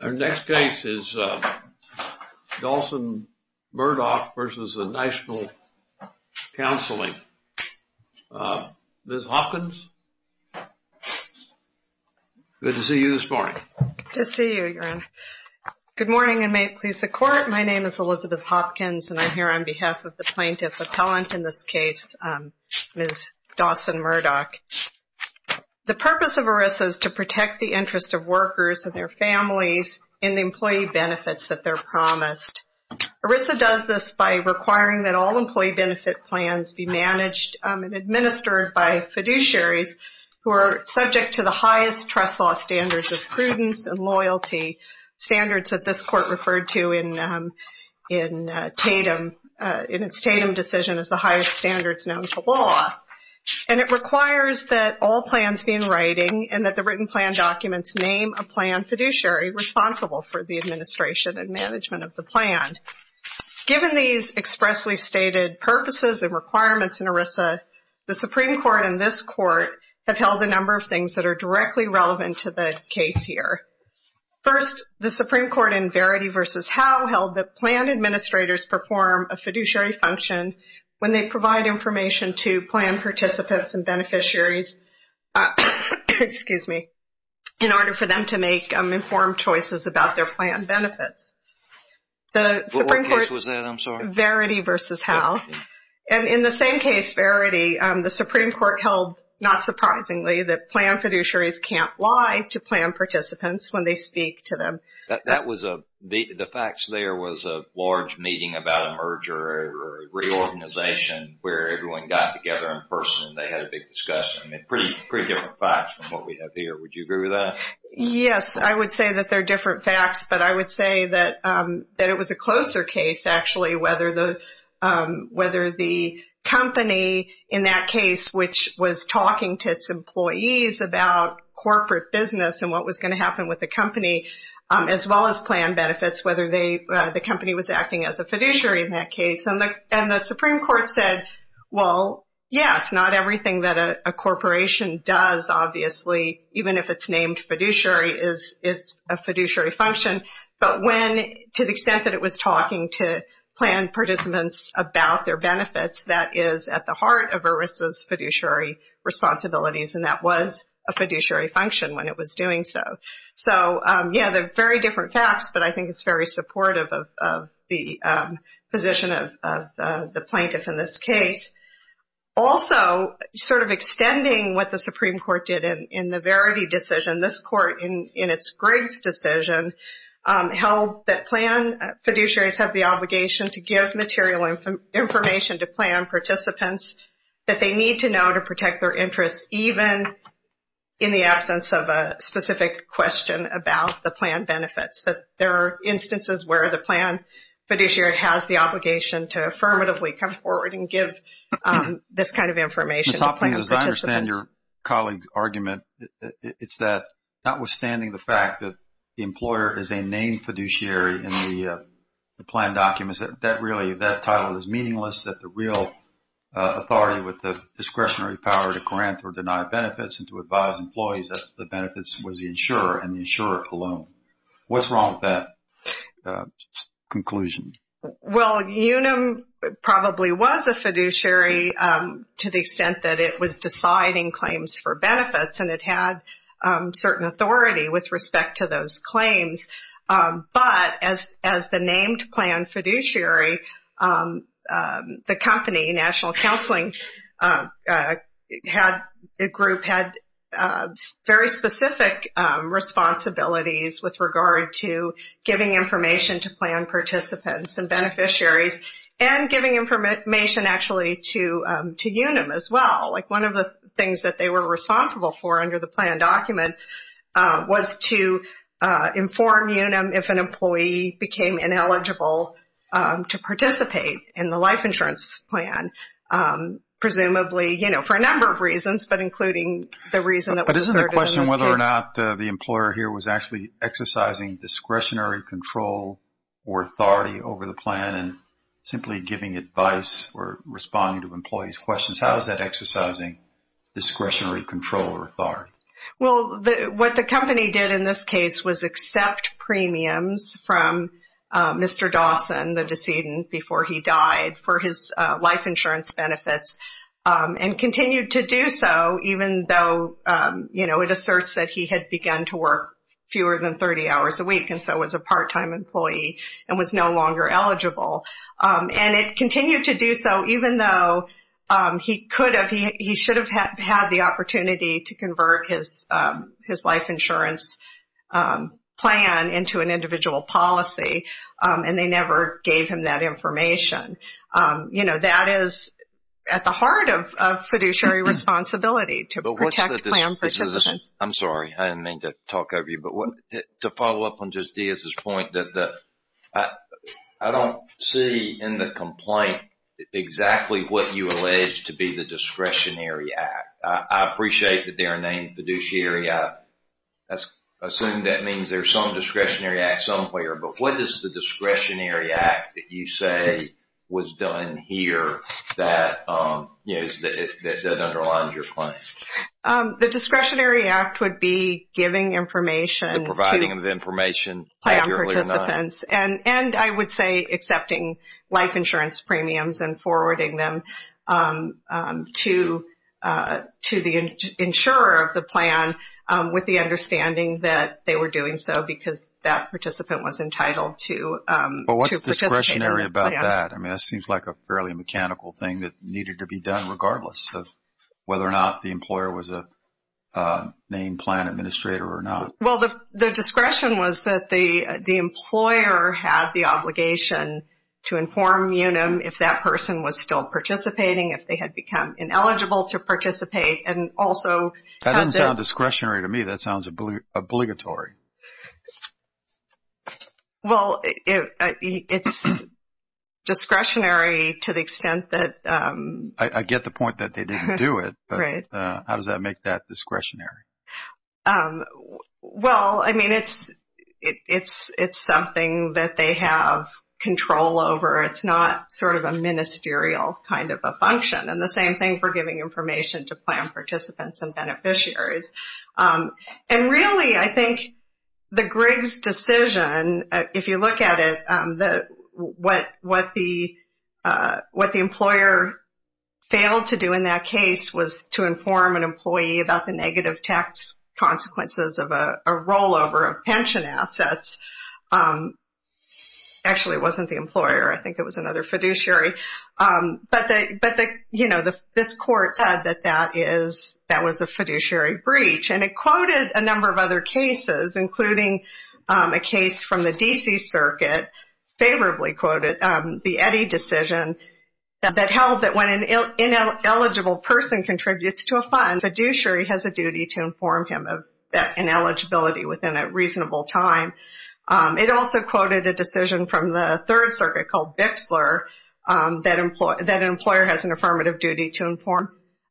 Our next case is Dawson-Murdock v. National Counseling Group, Inc. Ms. Hopkins, good to see you this morning. Good to see you, Your Honor. Good morning, and may it please the Court. My name is Elizabeth Hopkins, and I'm here on behalf of the plaintiff appellant in this case, Ms. Dawson-Murdock. The purpose of ERISA is to protect the interest of workers and their families in the employee benefits that they're promised. ERISA does this by requiring that all employee benefit plans be managed and administered by fiduciaries who are subject to the highest trust law standards of prudence and loyalty, standards that this Court referred to in Tatum, in its Tatum decision, as the highest standards known to law. And it requires that all plans be in writing and that the written plan documents name a plan fiduciary responsible for the administration and management of the plan. Given these expressly stated purposes and requirements in ERISA, the Supreme Court and this Court have held a number of things that are directly relevant to the case here. First, the Supreme Court in Verity v. Howe held that plan administrators perform a fiduciary function when they provide information to plan participants and beneficiaries, excuse me, in order for them to make informed choices about their plan benefits. What case was that? I'm sorry. Verity v. Howe. And in the same case, Verity, the Supreme Court held, not surprisingly, that plan fiduciaries can't lie to plan participants when they speak to them. That was a, the facts there was a large meeting about a merger, a reorganization where everyone got together in person and they had a big discussion. Pretty different facts from what we have here. Would you agree with that? Yes, I would say that they're different facts, but I would say that it was a closer case, actually, whether the company in that case, which was talking to its employees about corporate business and what was going to happen with the company, as well as plan benefits, whether the company was acting as a fiduciary in that case. And the Supreme Court said, well, yes, not everything that a corporation does, obviously, even if it's named fiduciary, is a fiduciary function. But when, to the extent that it was talking to plan participants about their benefits, that is at the heart of ERISA's fiduciary responsibilities, and that was a fiduciary function when it was doing so. So, yeah, they're very different facts, but I think it's very supportive of the position of the plaintiff in this case. Also, sort of extending what the Supreme Court did in the Verity decision, this court in its Griggs decision held that plan fiduciaries have the obligation to give material information to plan participants that they need to know to protect their interests, even in the absence of a specific question about the plan benefits, that there are instances where the plan fiduciary has the obligation to affirmatively come forward and give this kind of information to plan participants. Ms. Hoffman, as I understand your colleague's argument, it's that notwithstanding the fact that the employer is a named fiduciary in the plan documents, that really that title is meaningless, that the real authority with the discretionary power to grant or deny benefits and to advise employees of the benefits was the insurer and the insurer alone. What's wrong with that conclusion? Well, UNUM probably was a fiduciary to the extent that it was deciding claims for benefits, and it had certain authority with respect to those claims. But as the named plan fiduciary, the company, National Counseling Group, had very specific responsibilities with regard to giving information to plan participants and beneficiaries and giving information actually to UNUM as well. Like one of the things that they were responsible for under the plan document was to inform UNUM if an employee became ineligible to participate in the life insurance plan, presumably, you know, for a number of reasons, but including the reason that was asserted in this case. But isn't the question whether or not the employer here was actually exercising discretionary control or authority over the plan and simply giving advice or responding to employees' questions? How is that exercising discretionary control or authority? Well, what the company did in this case was accept premiums from Mr. Dawson, the decedent, before he died for his life insurance benefits and continued to do so, even though, you know, it asserts that he had begun to work fewer than 30 hours a week and so was a part-time employee and was no longer eligible. And it continued to do so even though he could have, he should have had the opportunity to convert his life insurance plan into an individual policy and they never gave him that information. You know, that is at the heart of fiduciary responsibility to protect plan participants. I'm sorry, I didn't mean to talk over you, but to follow up on just Diaz's point, I don't see in the complaint exactly what you allege to be the discretionary act. I appreciate that they are named fiduciary. I assume that means there's some discretionary act somewhere, but what is the discretionary act that you say was done here that, you know, that underlines your claim? The discretionary act would be giving information to plan participants and I would say accepting life insurance premiums and forwarding them to the insurer of the plan with the understanding that they were doing so because that participant was entitled to participate in the plan. But what's discretionary about that? I mean, that seems like a fairly mechanical thing that needed to be done regardless of whether or not the employer was a named plan administrator or not. Well, the discretion was that the employer had the obligation to inform Unum if that person was still participating, if they had become ineligible to participate, and also... That doesn't sound discretionary to me. That sounds obligatory. Well, it's discretionary to the extent that... I get the point that they didn't do it, but how does that make that discretionary? Well, I mean, it's something that they have control over. It's not sort of a ministerial kind of a function and the same thing for giving information to plan participants and beneficiaries. And really, I think the Griggs decision, if you look at it, what the employer failed to do in that case was to inform an employee about the negative tax consequences of a rollover of pension assets. Actually, it wasn't the employer. I think it was another fiduciary. But this court said that that was a fiduciary breach, and it quoted a number of other cases, including a case from the D.C. Circuit, favorably quoted the Eddy decision that held that when an ineligible person contributes to a fund, fiduciary has a duty to inform him of that ineligibility within a reasonable time. It also quoted a decision from the Third Circuit called Bixler that an employer has an affirmative duty to inform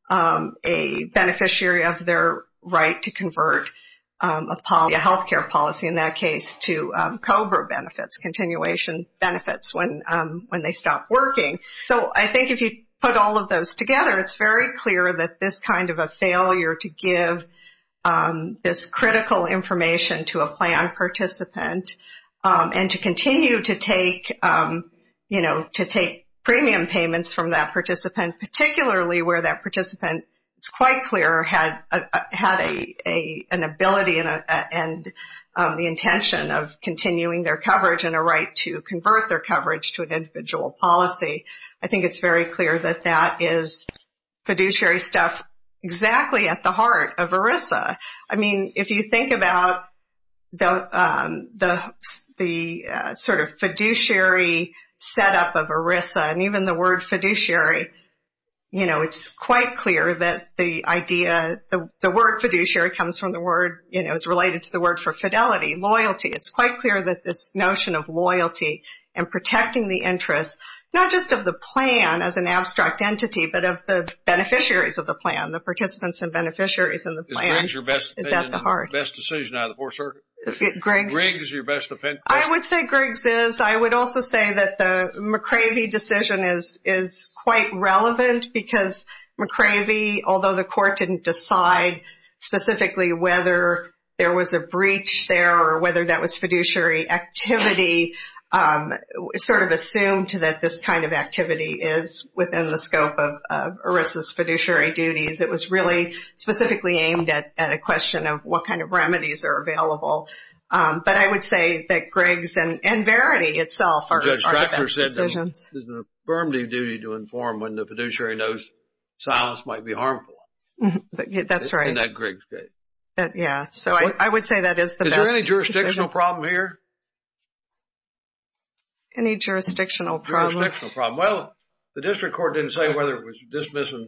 a beneficiary of their right to convert a health care policy, in that case, to COBRA benefits, continuation benefits, when they stop working. So I think if you put all of those together, it's very clear that this kind of a failure to give this critical information to a plan participant and to continue to take, you know, to take premium payments from that participant, particularly where that participant, it's quite clear, had an ability and the intention of continuing their coverage and a right to convert their coverage to an individual policy. I think it's very clear that that is fiduciary stuff exactly at the heart of ERISA. I mean, if you think about the sort of fiduciary setup of ERISA and even the word fiduciary, you know, it's quite clear that the idea, the word fiduciary comes from the word, you know, it's related to the word for fidelity, loyalty. It's quite clear that this notion of loyalty and protecting the interests, not just of the plan as an abstract entity, but of the beneficiaries of the plan, the participants and beneficiaries in the plan is at the heart. Is Griggs your best opinion, best decision out of the four circuits? Griggs. Griggs is your best opinion. I would say Griggs is. I would also say that the McCravey decision is quite relevant because McCravey, although the court didn't decide specifically whether there was a breach there or whether that was fiduciary activity, sort of assumed that this kind of activity is within the scope of ERISA's fiduciary duties. It was really specifically aimed at a question of what kind of remedies are available. But I would say that Griggs and Verity itself are the best decisions. It's the firm duty to inform when the fiduciary knows silence might be harmful. That's right. In that Griggs case. Yeah. So I would say that is the best decision. Is there any jurisdictional problem here? Any jurisdictional problem? Jurisdictional problem. Well, the district court didn't say whether it was dismissal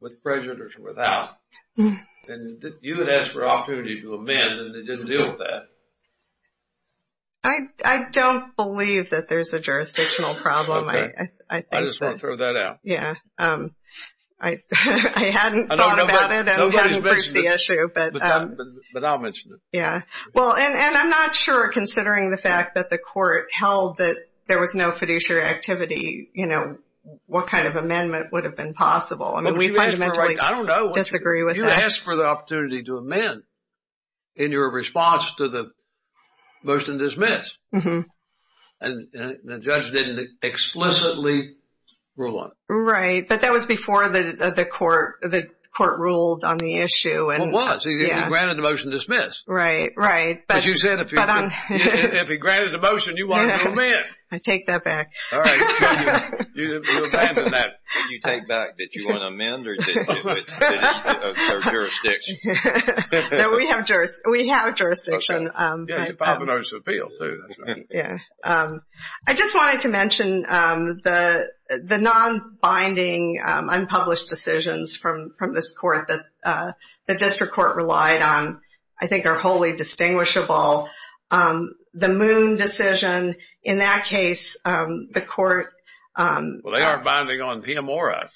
with prejudice or without. And you had asked for an opportunity to amend and they didn't deal with that. I don't believe that there's a jurisdictional problem. Okay. I just want to throw that out. Yeah. I hadn't thought about it. I hadn't raised the issue. But I'll mention it. Yeah. Well, and I'm not sure considering the fact that the court held that there was no fiduciary activity, you know, what kind of amendment would have been possible. I mean, we fundamentally disagree with that. You asked for the opportunity to amend in your response to the motion to dismiss. And the judge didn't explicitly rule on it. Right. But that was before the court ruled on the issue. Well, it was. He granted the motion to dismiss. Right. Right. But you said if he granted the motion, you want to amend. I take that back. All right. So you abandon that. Did you take back that you want to amend or did you have jurisdiction? No. We have jurisdiction. We have jurisdiction. Okay. Yeah. I just wanted to mention the non-binding unpublished decisions from this court that the district court relied on I think are wholly distinguishable. The Moon decision, in that case, the court Well, they aren't binding on him or I.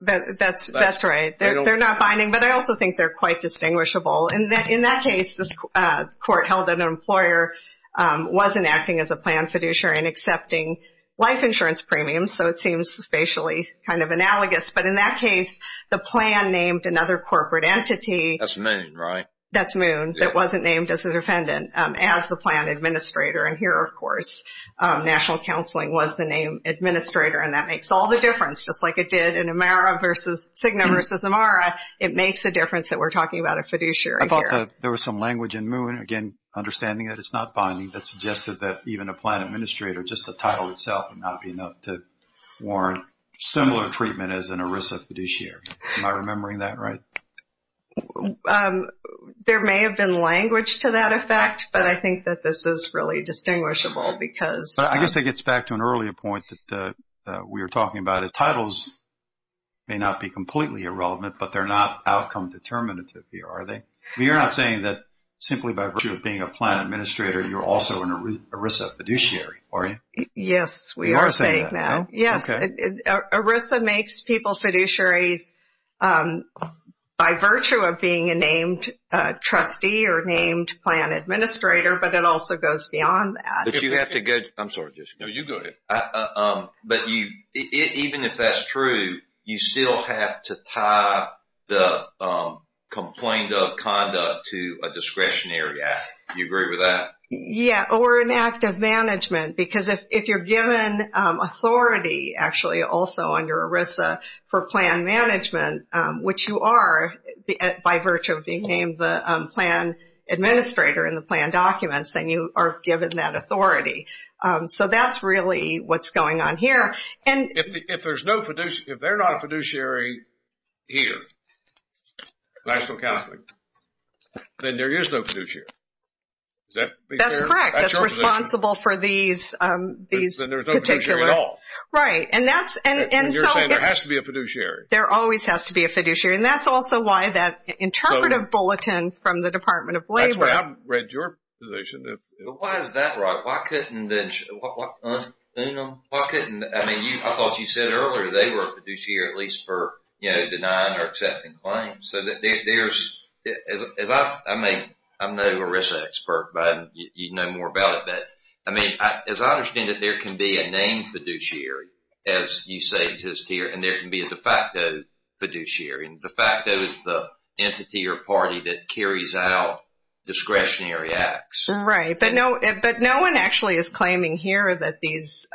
That's right. They're not binding. But I also think they're quite distinguishable. In that case, the court held that an employer wasn't acting as a planned fiduciary and accepting life insurance premiums, so it seems spatially kind of analogous. But in that case, the plan named another corporate entity. That's Moon, right? That's Moon that wasn't named as a defendant as the plan administrator. And here, of course, national counseling was the name administrator, and that makes all the difference. Just like it did in Amara versus Cigna versus Amara, it makes a difference that we're talking about a fiduciary here. There was some language in Moon, again, understanding that it's not binding, that suggested that even a plan administrator, just the title itself, would not be enough to warrant similar treatment as an ERISA fiduciary. Am I remembering that right? There may have been language to that effect, but I think that this is really distinguishable because… I guess that gets back to an earlier point that we were talking about. Titles may not be completely irrelevant, but they're not outcome determinative here, are they? You're not saying that simply by virtue of being a plan administrator, you're also an ERISA fiduciary, are you? Yes, we are saying that. Yes, ERISA makes people fiduciaries by virtue of being a named trustee or named plan administrator, but it also goes beyond that. But you have to go… I'm sorry. No, you go ahead. But even if that's true, you still have to tie the complaint of conduct to a discretionary act. Do you agree with that? Yeah, or an act of management, because if you're given authority, actually also under ERISA for plan management, which you are by virtue of being named the plan administrator in the plan documents, then you are given that authority. So that's really what's going on here. If there's no fiduciary, if they're not a fiduciary here, national counseling, then there is no fiduciary. That's correct. That's your position. That's responsible for these particular… Then there's no fiduciary at all. Right. And that's… And you're saying there has to be a fiduciary. There always has to be a fiduciary, and that's also why that interpretive bulletin from the Department of Labor… That's why I read your position. But why is that, right? Why couldn't then… Why couldn't… I mean, I thought you said earlier they were a fiduciary, at least for denying or accepting claims. So there's… I mean, I'm no ERISA expert, but you'd know more about it. But, I mean, as I understand it, there can be a named fiduciary, as you say exists here, and there can be a de facto fiduciary. And de facto is the entity or party that carries out discretionary acts. Right. But no one actually is claiming here that these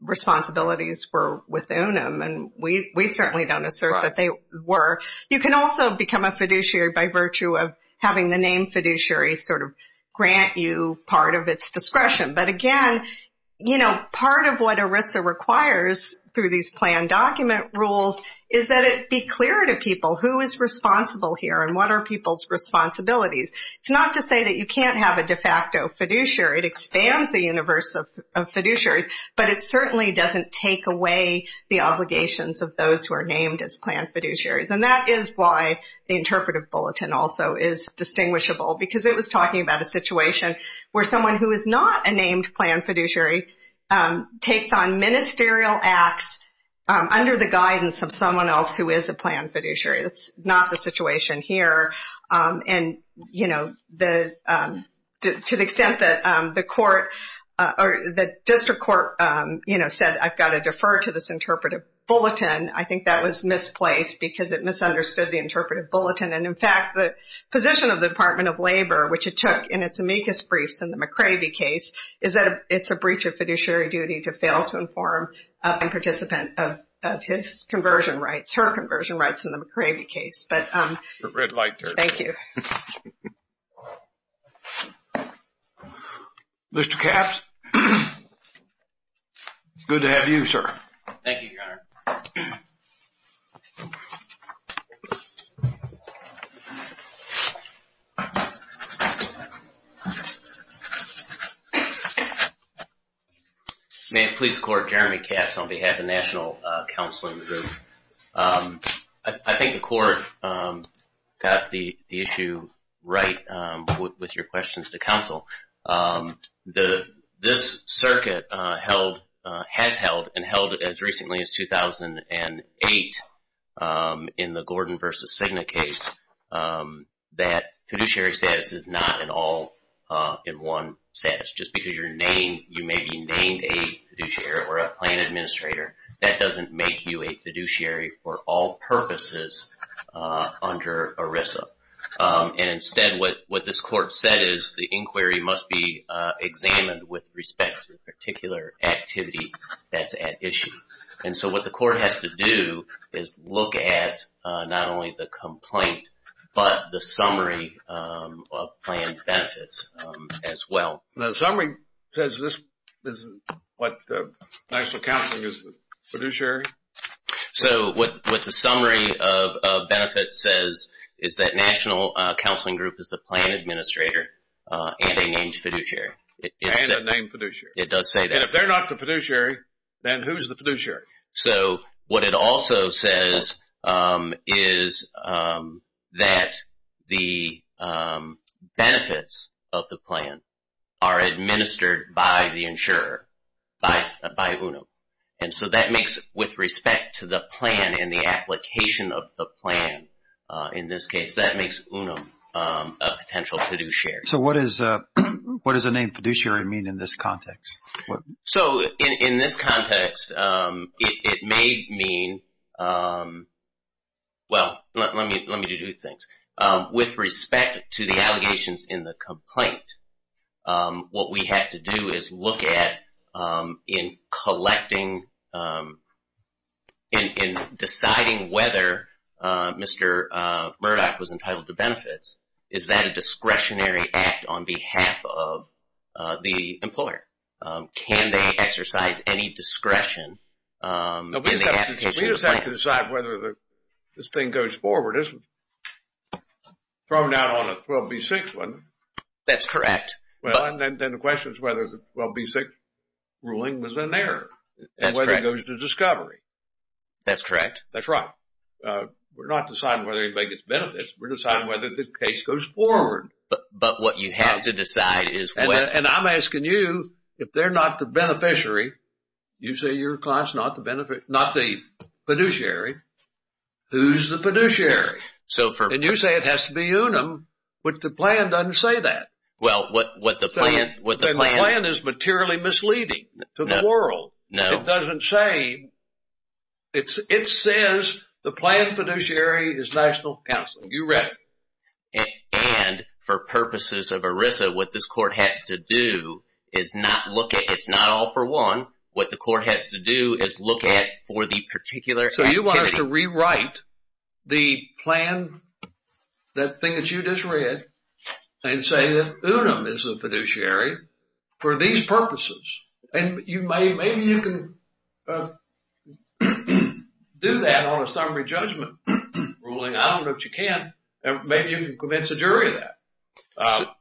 responsibilities were with UNAM. And we certainly don't assert that they were. You can also become a fiduciary by virtue of having the named fiduciary sort of grant you part of its discretion. But, again, you know, part of what ERISA requires through these planned document rules is that it be clear to people who is responsible here and what are people's responsibilities. It's not to say that you can't have a de facto fiduciary. It expands the universe of fiduciaries, but it certainly doesn't take away the obligations of those who are named as planned fiduciaries. And that is why the interpretive bulletin also is distinguishable, because it was talking about a situation where someone who is not a named planned fiduciary takes on ministerial acts under the guidance of someone else who is a planned fiduciary. That's not the situation here. And, you know, to the extent that the court or the district court, you know, said I've got to defer to this interpretive bulletin, I think that was misplaced because it misunderstood the interpretive bulletin. And, in fact, the position of the Department of Labor, which it took in its amicus briefs in the McCravey case, is that it's a breach of fiduciary duty to fail to inform a participant of his conversion rights, her conversion rights in the McCravey case. But thank you. Mr. Capps, it's good to have you, sir. Thank you, Your Honor. May it please the Court, Jeremy Capps on behalf of National Counseling Group. I think the court got the issue right with your questions to counsel. This circuit has held and held it as recently as 2008 in the Gordon v. Cigna case that fiduciary status is not an all-in-one status. Just because you may be named a fiduciary or a planned administrator, that doesn't make you a fiduciary for all purposes under ERISA. And, instead, what this court said is the inquiry must be examined with respect to a particular activity that's at issue. And so what the court has to do is look at not only the complaint, but the summary of planned benefits as well. The summary says this is what National Counseling is fiduciary? So what the summary of benefits says is that National Counseling Group is the planned administrator and a named fiduciary. And a named fiduciary. It does say that. And if they're not the fiduciary, then who's the fiduciary? So what it also says is that the benefits of the plan are administered by the insurer, by UNUM. And so that makes, with respect to the plan and the application of the plan in this case, that makes UNUM a potential fiduciary. So what does a named fiduciary mean in this context? So in this context, it may mean, well, let me do two things. With respect to the allegations in the complaint, what we have to do is look at in collecting, in deciding whether Mr. Murdoch was entitled to benefits, is that a discretionary act on behalf of the employer? Can they exercise any discretion in the application of the plan? We just have to decide whether this thing goes forward. It's thrown out on a 12B6 one. That's correct. Well, and then the question is whether the 12B6 ruling was an error. That's correct. And whether it goes to discovery. That's correct. That's right. We're not deciding whether anybody gets benefits. We're deciding whether the case goes forward. But what you have to decide is when. And I'm asking you, if they're not the beneficiary, you say your client's not the beneficiary, not the fiduciary, who's the fiduciary? So for... And you say it has to be UNUM, but the plan doesn't say that. Well, what the plan... The plan is materially misleading to the world. No. The plan doesn't say... It says the plan fiduciary is national counseling. You read it. And for purposes of ERISA, what this court has to do is not look at... It's not all for one. What the court has to do is look at for the particular activity. So you want us to rewrite the plan, that thing that you just read, and say that UNUM is the fiduciary for these purposes. And maybe you can do that on a summary judgment ruling. I don't know if you can. Maybe you can convince a jury of that.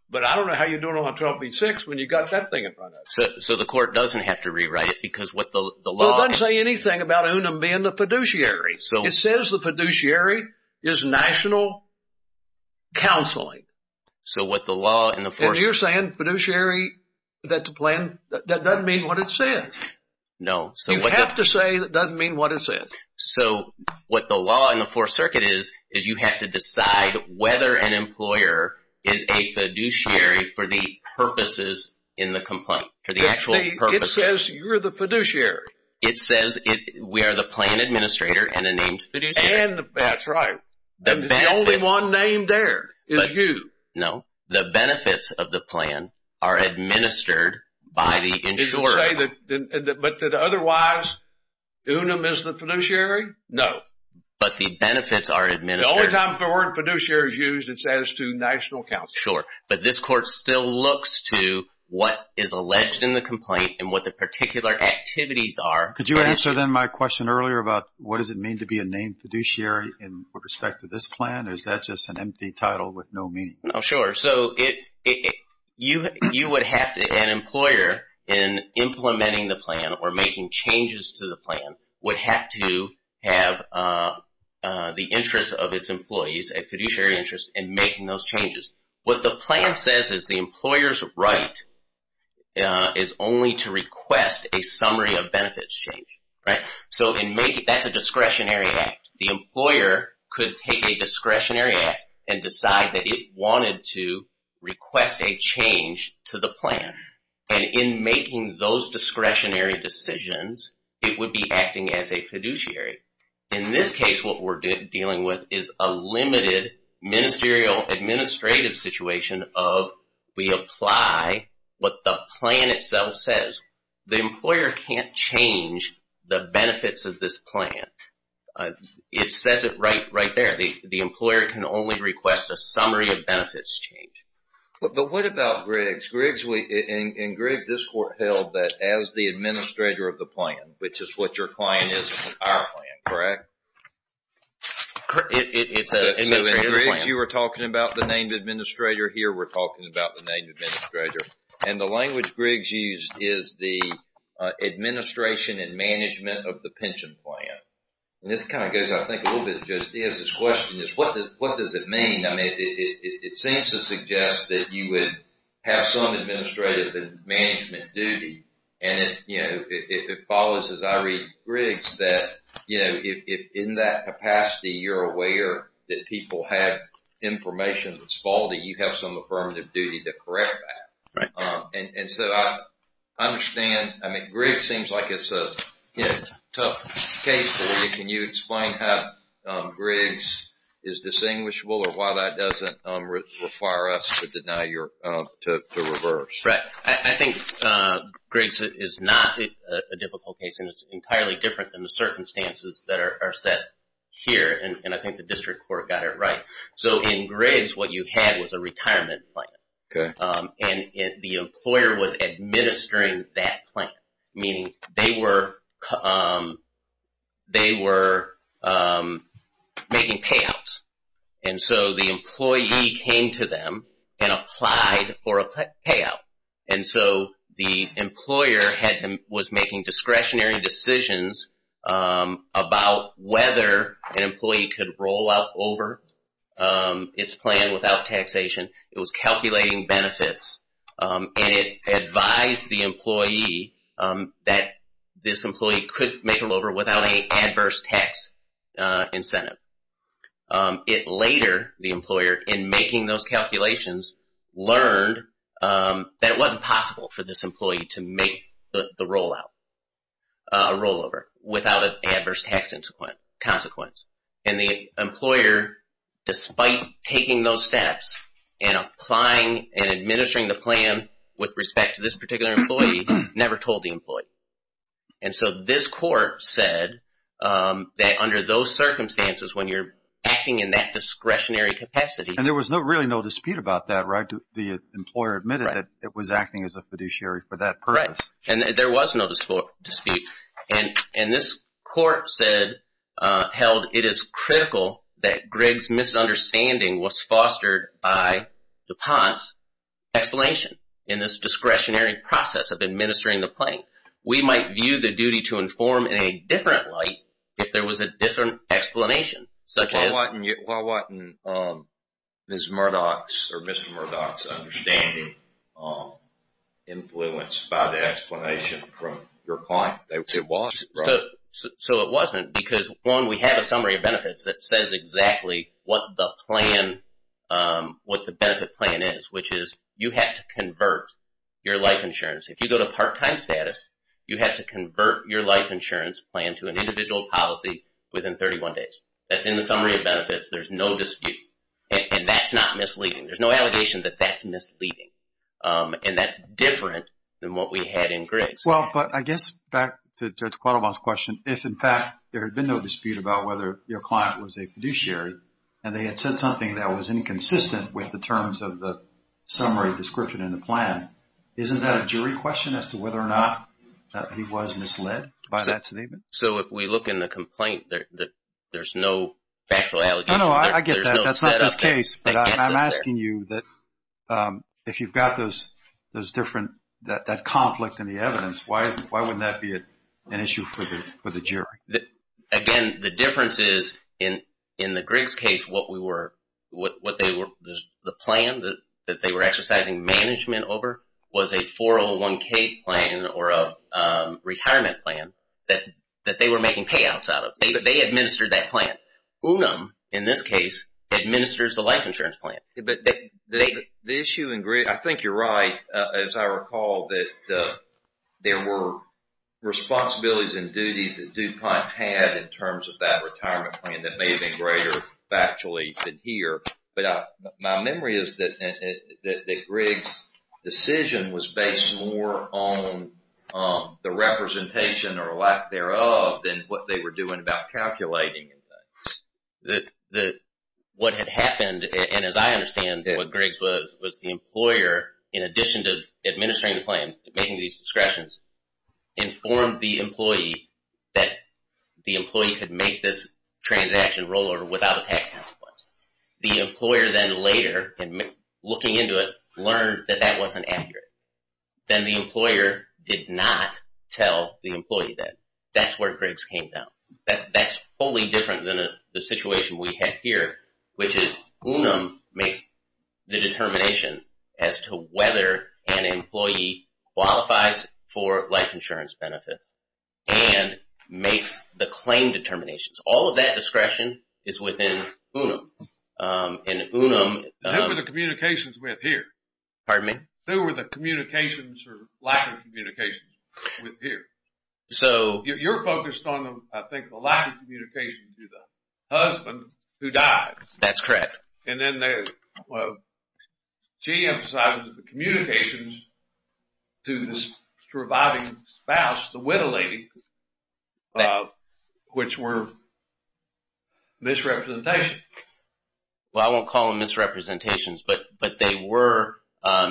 But I don't know how you're doing on 12b-6 when you've got that thing in front of you. So the court doesn't have to rewrite it because what the law... Well, it doesn't say anything about UNUM being the fiduciary. It says the fiduciary is national counseling. So what the law and the force... So you're saying fiduciary, that the plan, that doesn't mean what it says. No. You have to say it doesn't mean what it says. So what the law and the force circuit is, is you have to decide whether an employer is a fiduciary for the purposes in the complaint, for the actual purposes. It says you're the fiduciary. It says we are the plan administrator and a named fiduciary. That's right. The only one named there is you. No. The benefits of the plan are administered by the insurer. Did you say that otherwise UNUM is the fiduciary? No. But the benefits are administered. The only time the word fiduciary is used is as to national counseling. Sure. But this court still looks to what is alleged in the complaint and what the particular activities are. Could you answer then my question earlier about what does it mean to be a named fiduciary with respect to this plan? Or is that just an empty title with no meaning? Sure. So an employer in implementing the plan or making changes to the plan would have to have the interest of its employees, a fiduciary interest in making those changes. What the plan says is the employer's right is only to request a summary of benefits change. So that's a discretionary act. The employer could take a discretionary act and decide that it wanted to request a change to the plan. And in making those discretionary decisions, it would be acting as a fiduciary. In this case, what we're dealing with is a limited ministerial administrative situation of we apply what the plan itself says. The employer can't change the benefits of this plan. It says it right there. The employer can only request a summary of benefits change. But what about Griggs? In Griggs, this court held that as the administrator of the plan, which is what your client is in our plan, correct? It's an administrative plan. In Griggs, you were talking about the named administrator. Here, we're talking about the named administrator. And the language Griggs used is the administration and management of the pension plan. And this kind of goes, I think, a little bit to Joseph Diaz's question, is what does it mean? I mean, it seems to suggest that you would have some administrative and management duty. And it follows, as I read Griggs, that if in that capacity, you're aware that people have information that's faulty, you have some affirmative duty to correct that. And so I understand. I mean, Griggs seems like it's a tough case for you. Can you explain how Griggs is distinguishable or why that doesn't require us to reverse? I think Griggs is not a difficult case. And it's entirely different than the circumstances that are set here. And I think the district court got it right. So in Griggs, what you had was a retirement plan. And the employer was administering that plan, meaning they were making payouts. And so the employee came to them and applied for a payout. And so the employer was making discretionary decisions about whether an employee could roll out or roll over its plan without taxation. It was calculating benefits. And it advised the employee that this employee could make a rollover without a adverse tax incentive. It later, the employer, in making those calculations, learned that it wasn't possible for this employee to make the rollout, a rollover, without an adverse tax consequence. And the employer, despite taking those steps and applying and administering the plan with respect to this particular employee, never told the employee. And so this court said that under those circumstances, when you're acting in that discretionary capacity. And there was really no dispute about that, right? The employer admitted that it was acting as a fiduciary for that purpose. Right. And there was no dispute. And this court said, held it is critical that Greg's misunderstanding was fostered by DuPont's explanation in this discretionary process of administering the plan. We might view the duty to inform in a different light if there was a different explanation, such as. Why wasn't Ms. Murdoch's or Mr. Murdoch's understanding influenced by the explanation from your client? It wasn't. So it wasn't because, one, we have a summary of benefits that says exactly what the plan, what the benefit plan is, which is you have to convert your life insurance. If you go to part-time status, you have to convert your life insurance plan to an individual policy within 31 days. That's in the summary of benefits. There's no dispute. And that's not misleading. There's no allegation that that's misleading. And that's different than what we had in Greg's. Well, but I guess back to Judge Quattlebaum's question. If, in fact, there had been no dispute about whether your client was a fiduciary and they had said something that was inconsistent with the terms of the summary description in the plan, isn't that a jury question as to whether or not he was misled by that statement? So if we look in the complaint, there's no factual allegation. No, no, I get that. That's not this case. But I'm asking you that if you've got those different, that conflict in the evidence, why wouldn't that be an issue for the jury? Again, the difference is in the Griggs case, what we were, what they were, the plan that they were exercising management over was a 401K plan or a retirement plan that they were making payouts out of. They administered that plan. Unum, in this case, administers the life insurance plan. But the issue in Griggs, I think you're right, as I recall, that there were responsibilities and duties that DuPont had in terms of that retirement plan that may have been greater factually than here. But my memory is that Griggs' decision was based more on the representation or lack thereof than what they were doing about calculating. What had happened, and as I understand what Griggs was, was the employer, in addition to administering the plan, making these discretions, informed the employee that the employee could make this transaction roll over without a tax consequence. The employer then later, looking into it, learned that that wasn't accurate. Then the employer did not tell the employee that. That's where Griggs came down. That's wholly different than the situation we have here, which is Unum makes the determination as to whether an employee qualifies for life insurance benefits and makes the claim determinations. All of that discretion is within Unum. Who were the communications with here? Pardon me? Who were the communications or lack of communications with here? You're focused on, I think, the lack of communications to the husband who died. That's correct. And then she emphasized the communications to the surviving spouse, the widow lady, which were misrepresentations. Well, I won't call them misrepresentations, but they were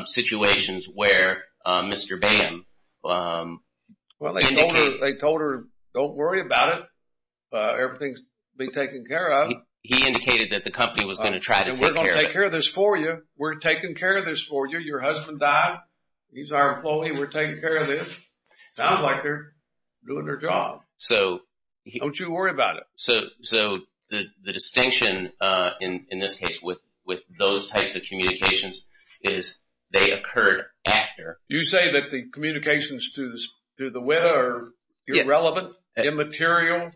situations where Mr. Bame Well, they told her, don't worry about it. Everything will be taken care of. He indicated that the company was going to try to take care of it. We're going to take care of this for you. We're taking care of this for you. Your husband died. He's our employee. We're taking care of this. Sounds like they're doing their job. Don't you worry about it. So the distinction in this case with those types of communications is they occurred after. You say that the communications to the widow are irrelevant, immaterial,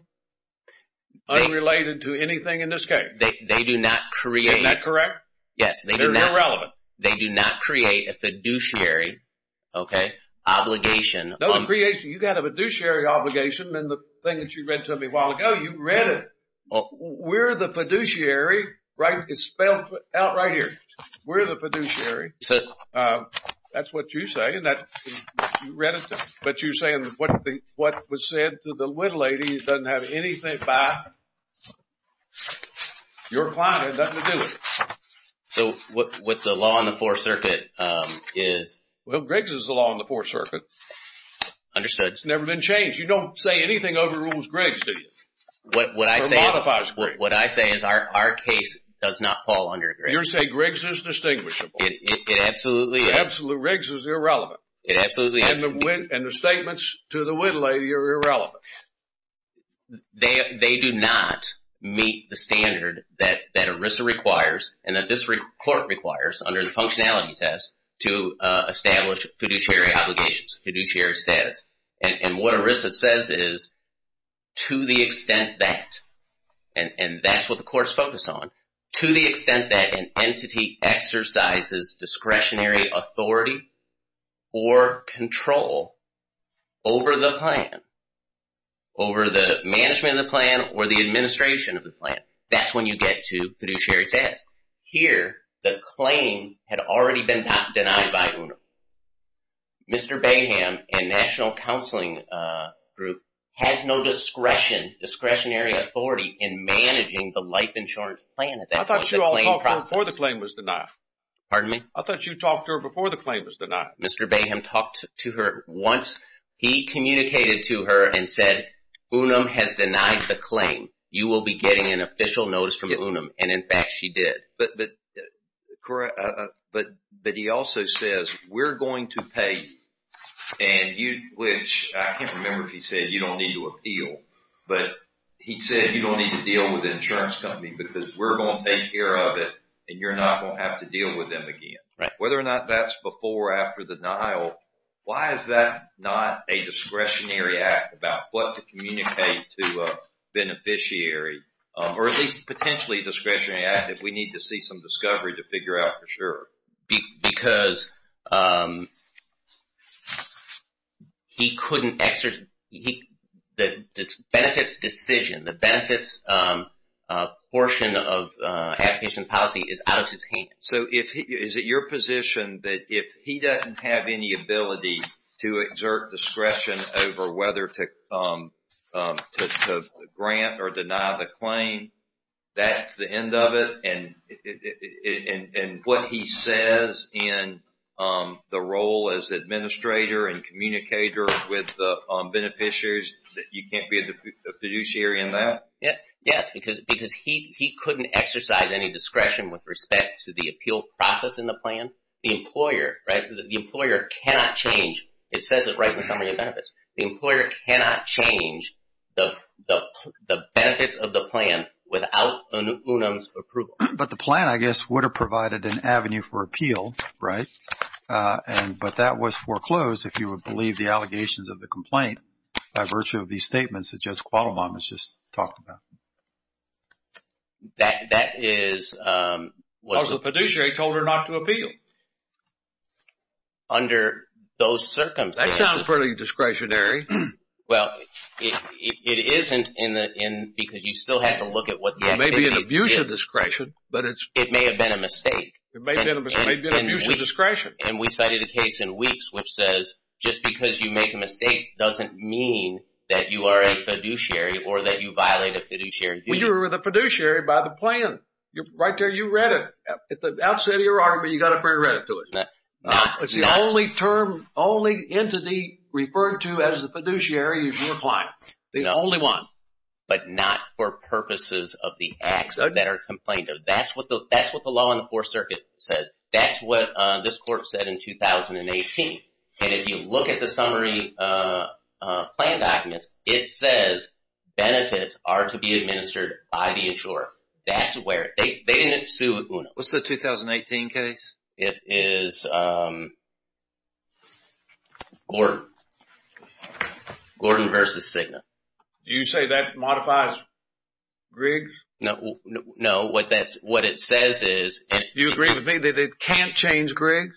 unrelated to anything in this case. They do not create. Isn't that correct? Yes. They're irrelevant. They do not create a fiduciary obligation. You got a fiduciary obligation in the thing that you read to me a while ago. You read it. We're the fiduciary. It's spelled out right here. We're the fiduciary. That's what you say. You read it, but you're saying what was said to the little lady doesn't have anything to do with your client. So what the law on the Fourth Circuit is. Well, Griggs is the law on the Fourth Circuit. Understood. It's never been changed. You don't say anything overrules Griggs, do you? What I say is our case does not fall under Griggs. You're saying Griggs is distinguishable. It absolutely is. Griggs is irrelevant. It absolutely is. And the statements to the widow lady are irrelevant. They do not meet the standard that ERISA requires and that this court requires under the functionality test to establish fiduciary obligations, fiduciary status. And what ERISA says is to the extent that, and that's what the court's focused on. To the extent that an entity exercises discretionary authority or control over the plan, over the management of the plan or the administration of the plan. That's when you get to fiduciary status. Here, the claim had already been denied by UNO. Mr. Baham and National Counseling Group has no discretionary authority in managing the life insurance plan at that point. I thought you all talked before the claim was denied. Pardon me? I thought you talked to her before the claim was denied. Mr. Baham talked to her once. He communicated to her and said UNUM has denied the claim. You will be getting an official notice from UNUM. And in fact, she did. But he also says we're going to pay and you, which I can't remember if he said you don't need to appeal. But he said you don't need to deal with the insurance company because we're going to take care of it and you're not going to have to deal with them again. Right. Whether or not that's before or after the denial, why is that not a discretionary act about what to communicate to a beneficiary? Or at least potentially a discretionary act if we need to see some discovery to figure out for sure. Because he couldn't exert the benefits decision. The benefits portion of application policy is out of his hands. So is it your position that if he doesn't have any ability to exert discretion over whether to grant or deny the claim, that's the end of it? And what he says in the role as administrator and communicator with the beneficiaries that you can't be a fiduciary in that? Yes. Because he couldn't exercise any discretion with respect to the appeal process in the plan. The employer, right, the employer cannot change. It says it right in the summary of benefits. The employer cannot change the benefits of the plan without an UNAM's approval. But the plan, I guess, would have provided an avenue for appeal, right? But that was foreclosed, if you would believe the allegations of the complaint by virtue of these statements that Judge Quattlebaum has just talked about. That is... Because the fiduciary told her not to appeal. Under those circumstances... That sounds fairly discretionary. Well, it isn't because you still have to look at what the activities... It may be an abuse of discretion, but it's... It may have been a mistake. It may have been an abuse of discretion. And we cited a case in Weeks which says just because you make a mistake doesn't mean that you are a fiduciary or that you violate a fiduciary duty. Well, you're the fiduciary by the plan. Right there, you read it. At the outset of your argument, you got to bring it to it. It's the only term, only entity referred to as the fiduciary is your client. The only one. But not for purposes of the acts that are complained of. That's what the law in the Fourth Circuit says. That's what this court said in 2018. And if you look at the summary plan documents, it says benefits are to be administered by the insurer. That's where... They didn't sue UNA. What's the 2018 case? It is... Gordon v. Cigna. You say that modifies Griggs? No. What it says is... Do you agree with me that it can't change Griggs?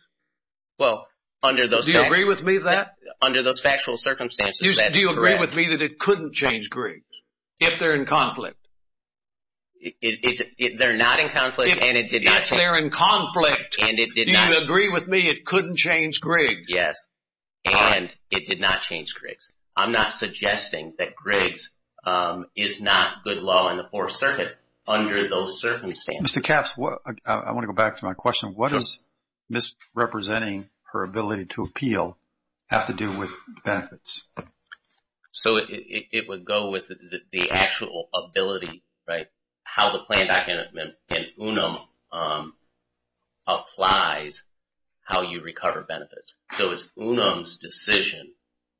Well, under those... Do you agree with me that... Under those factual circumstances, that's correct. Do you agree with me that it couldn't change Griggs if they're in conflict? If they're not in conflict and it did not change... If they're in conflict and it did not... Do you agree with me it couldn't change Griggs? Yes. And it did not change Griggs. I'm not suggesting that Griggs is not good law in the Fourth Circuit under those circumstances. Mr. Capps, I want to go back to my question. What does misrepresenting her ability to appeal have to do with benefits? So, it would go with the actual ability, right? How the plan document in UNUM applies how you recover benefits. So, it's UNUM's decision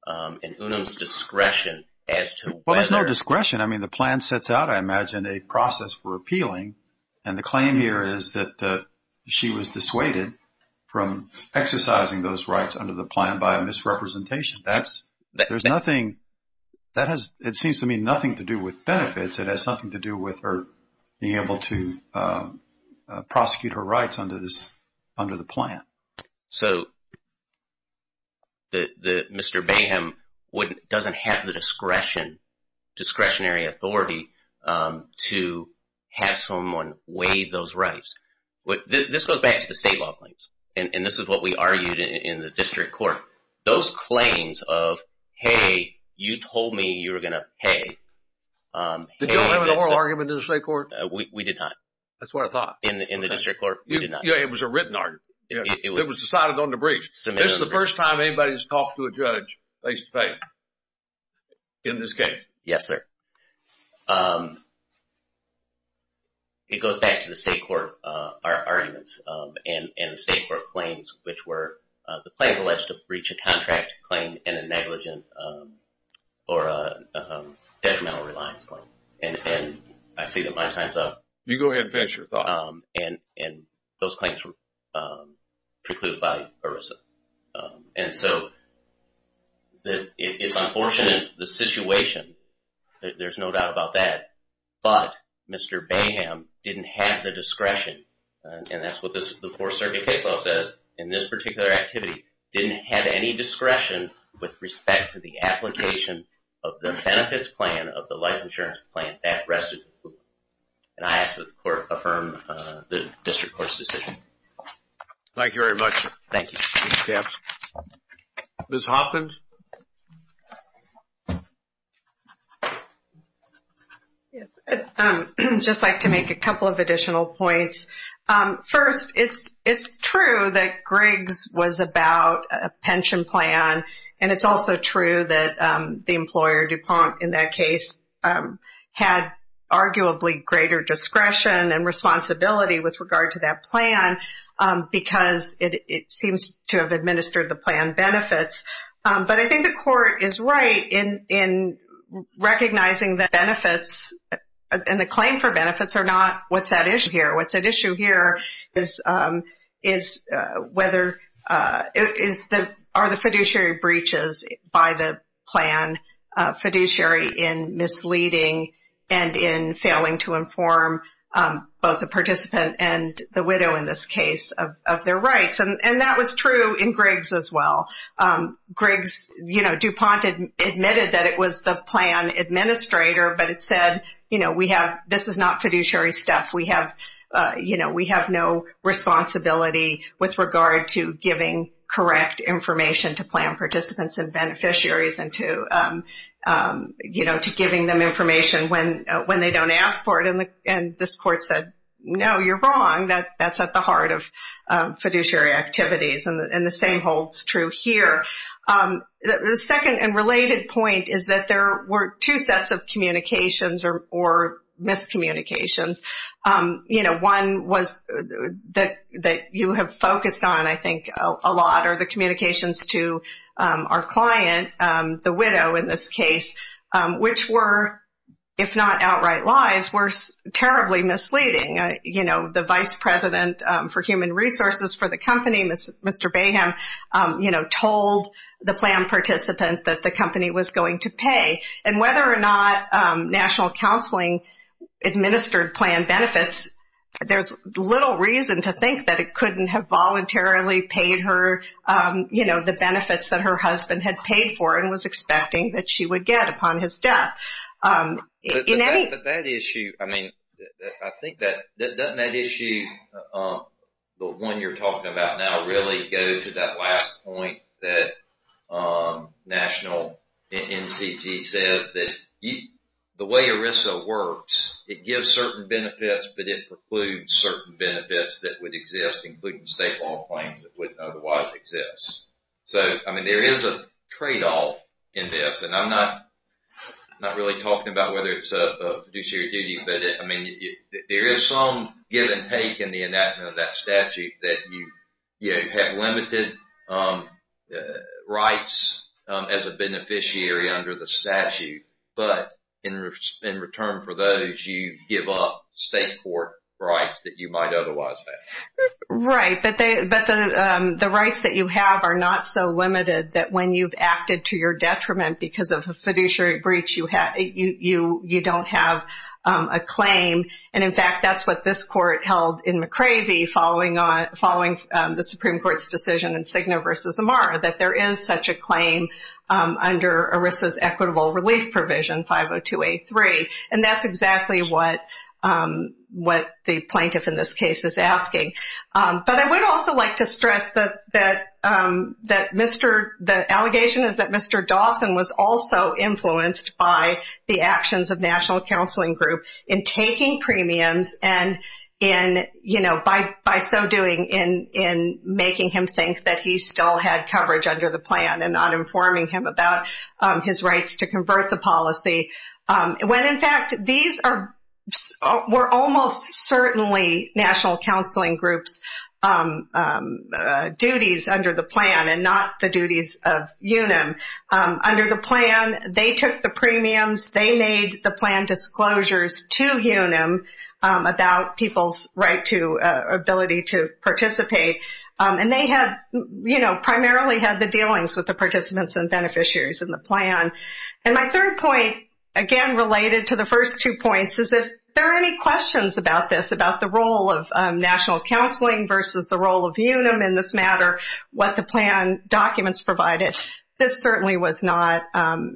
and UNUM's discretion as to whether... Well, there's no discretion. I mean, the plan sets out, I imagine, a process for appealing. And the claim here is that she was dissuaded from exercising those rights under the plan by misrepresentation. That's... There's nothing... That has... It seems to me nothing to do with benefits. It has something to do with her being able to prosecute her rights under the plan. So, Mr. Baham doesn't have the discretionary authority to have someone waive those rights. This goes back to the state law claims. And this is what we argued in the district court. Those claims of, hey, you told me you were going to pay... Did you have an oral argument in the state court? We did not. That's what I thought. In the district court, we did not. Yeah, it was a written argument. It was decided on the brief. This is the first time anybody has talked to a judge face-to-face in this case. Yes, sir. It goes back to the state court arguments and the state court claims, which were the claims alleged to breach a contract claim and a negligent or a detrimental reliance claim. And I see that my time's up. You go ahead and finish your thought. And those claims were precluded by ERISA. And so, it's unfortunate the situation. There's no doubt about that. But Mr. Baham didn't have the discretion, and that's what the Fourth Circuit case law says, in this particular activity, didn't have any discretion with respect to the application of the benefits plan, of the life insurance plan that rested. And I ask that the court affirm the district court's decision. Thank you very much. Thank you. Ms. Hoffman? I'd just like to make a couple of additional points. First, it's true that Griggs was about a pension plan, and it's also true that the employer, DuPont, in that case, had arguably greater discretion and responsibility with regard to that plan because it seems to have administered the plan benefits. But I think the court is right in recognizing that benefits and the claim for benefits are not what's at issue here. It's whether, are the fiduciary breaches by the plan fiduciary in misleading and in failing to inform both the participant and the widow in this case of their rights. And that was true in Griggs as well. Griggs, you know, DuPont admitted that it was the plan administrator, but it said, you know, we have, this is not fiduciary stuff. We have, you know, we have no responsibility with regard to giving correct information to plan participants and beneficiaries and to, you know, to giving them information when they don't ask for it. And this court said, no, you're wrong. That's at the heart of fiduciary activities. And the same holds true here. The second and related point is that there were two sets of communications or miscommunications. You know, one was that you have focused on, I think, a lot are the communications to our client, the widow in this case, which were, if not outright lies, were terribly misleading. You know, the vice president for human resources for the company, Mr. Baham, you know, told the plan participant that the company was going to pay. And whether or not national counseling administered plan benefits, there's little reason to think that it couldn't have voluntarily paid her, you know, the benefits that her husband had paid for and was expecting that she would get upon his death. But that issue, I mean, I think that that issue, the one you're talking about now, really go to that last point that national NCG says that the way ERISA works, it gives certain benefits, but it precludes certain benefits that would exist, including state law claims that wouldn't otherwise exist. So, I mean, there is a tradeoff in this, and I'm not really talking about whether it's a fiduciary duty, but I mean, there is some give and take in the enactment of that statute that you have limited rights as a beneficiary under the statute. But in return for those, you give up state court rights that you might otherwise have. Right, but the rights that you have are not so limited that when you've acted to your detriment because of a fiduciary breach, you don't have a claim. And in fact, that's what this court held in McCravey following the Supreme Court's decision in Cigna versus Amara, that there is such a claim under ERISA's equitable relief provision, 502A3. And that's exactly what the plaintiff in this case is asking. But I would also like to stress that the allegation is that Mr. Dawson was also influenced by the actions of National Counseling Group in taking premiums and by so doing in making him think that he still had coverage under the plan and not informing him about his rights to convert the policy. When in fact, these were almost certainly National Counseling Group's duties under the plan and not the duties of UNAM. Under the plan, they took the premiums. They made the plan disclosures to UNAM about people's right to ability to participate. And they have, you know, primarily had the dealings with the participants and beneficiaries in the plan. And my third point, again, related to the first two points, is if there are any questions about this, about the role of National Counseling versus the role of UNAM in this matter, what the plan documents provided, this certainly was not,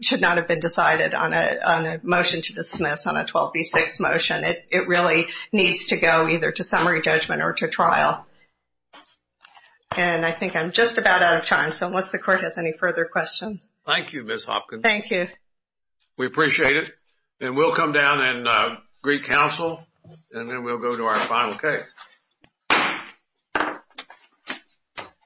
should not have been decided on a motion to dismiss on a 12B6 motion. It really needs to go either to summary judgment or to trial. And I think I'm just about out of time. So unless the court has any further questions. Thank you, Ms. Hopkins. Thank you. We appreciate it. And we'll come down in Greek Council, and then we'll go to our final case.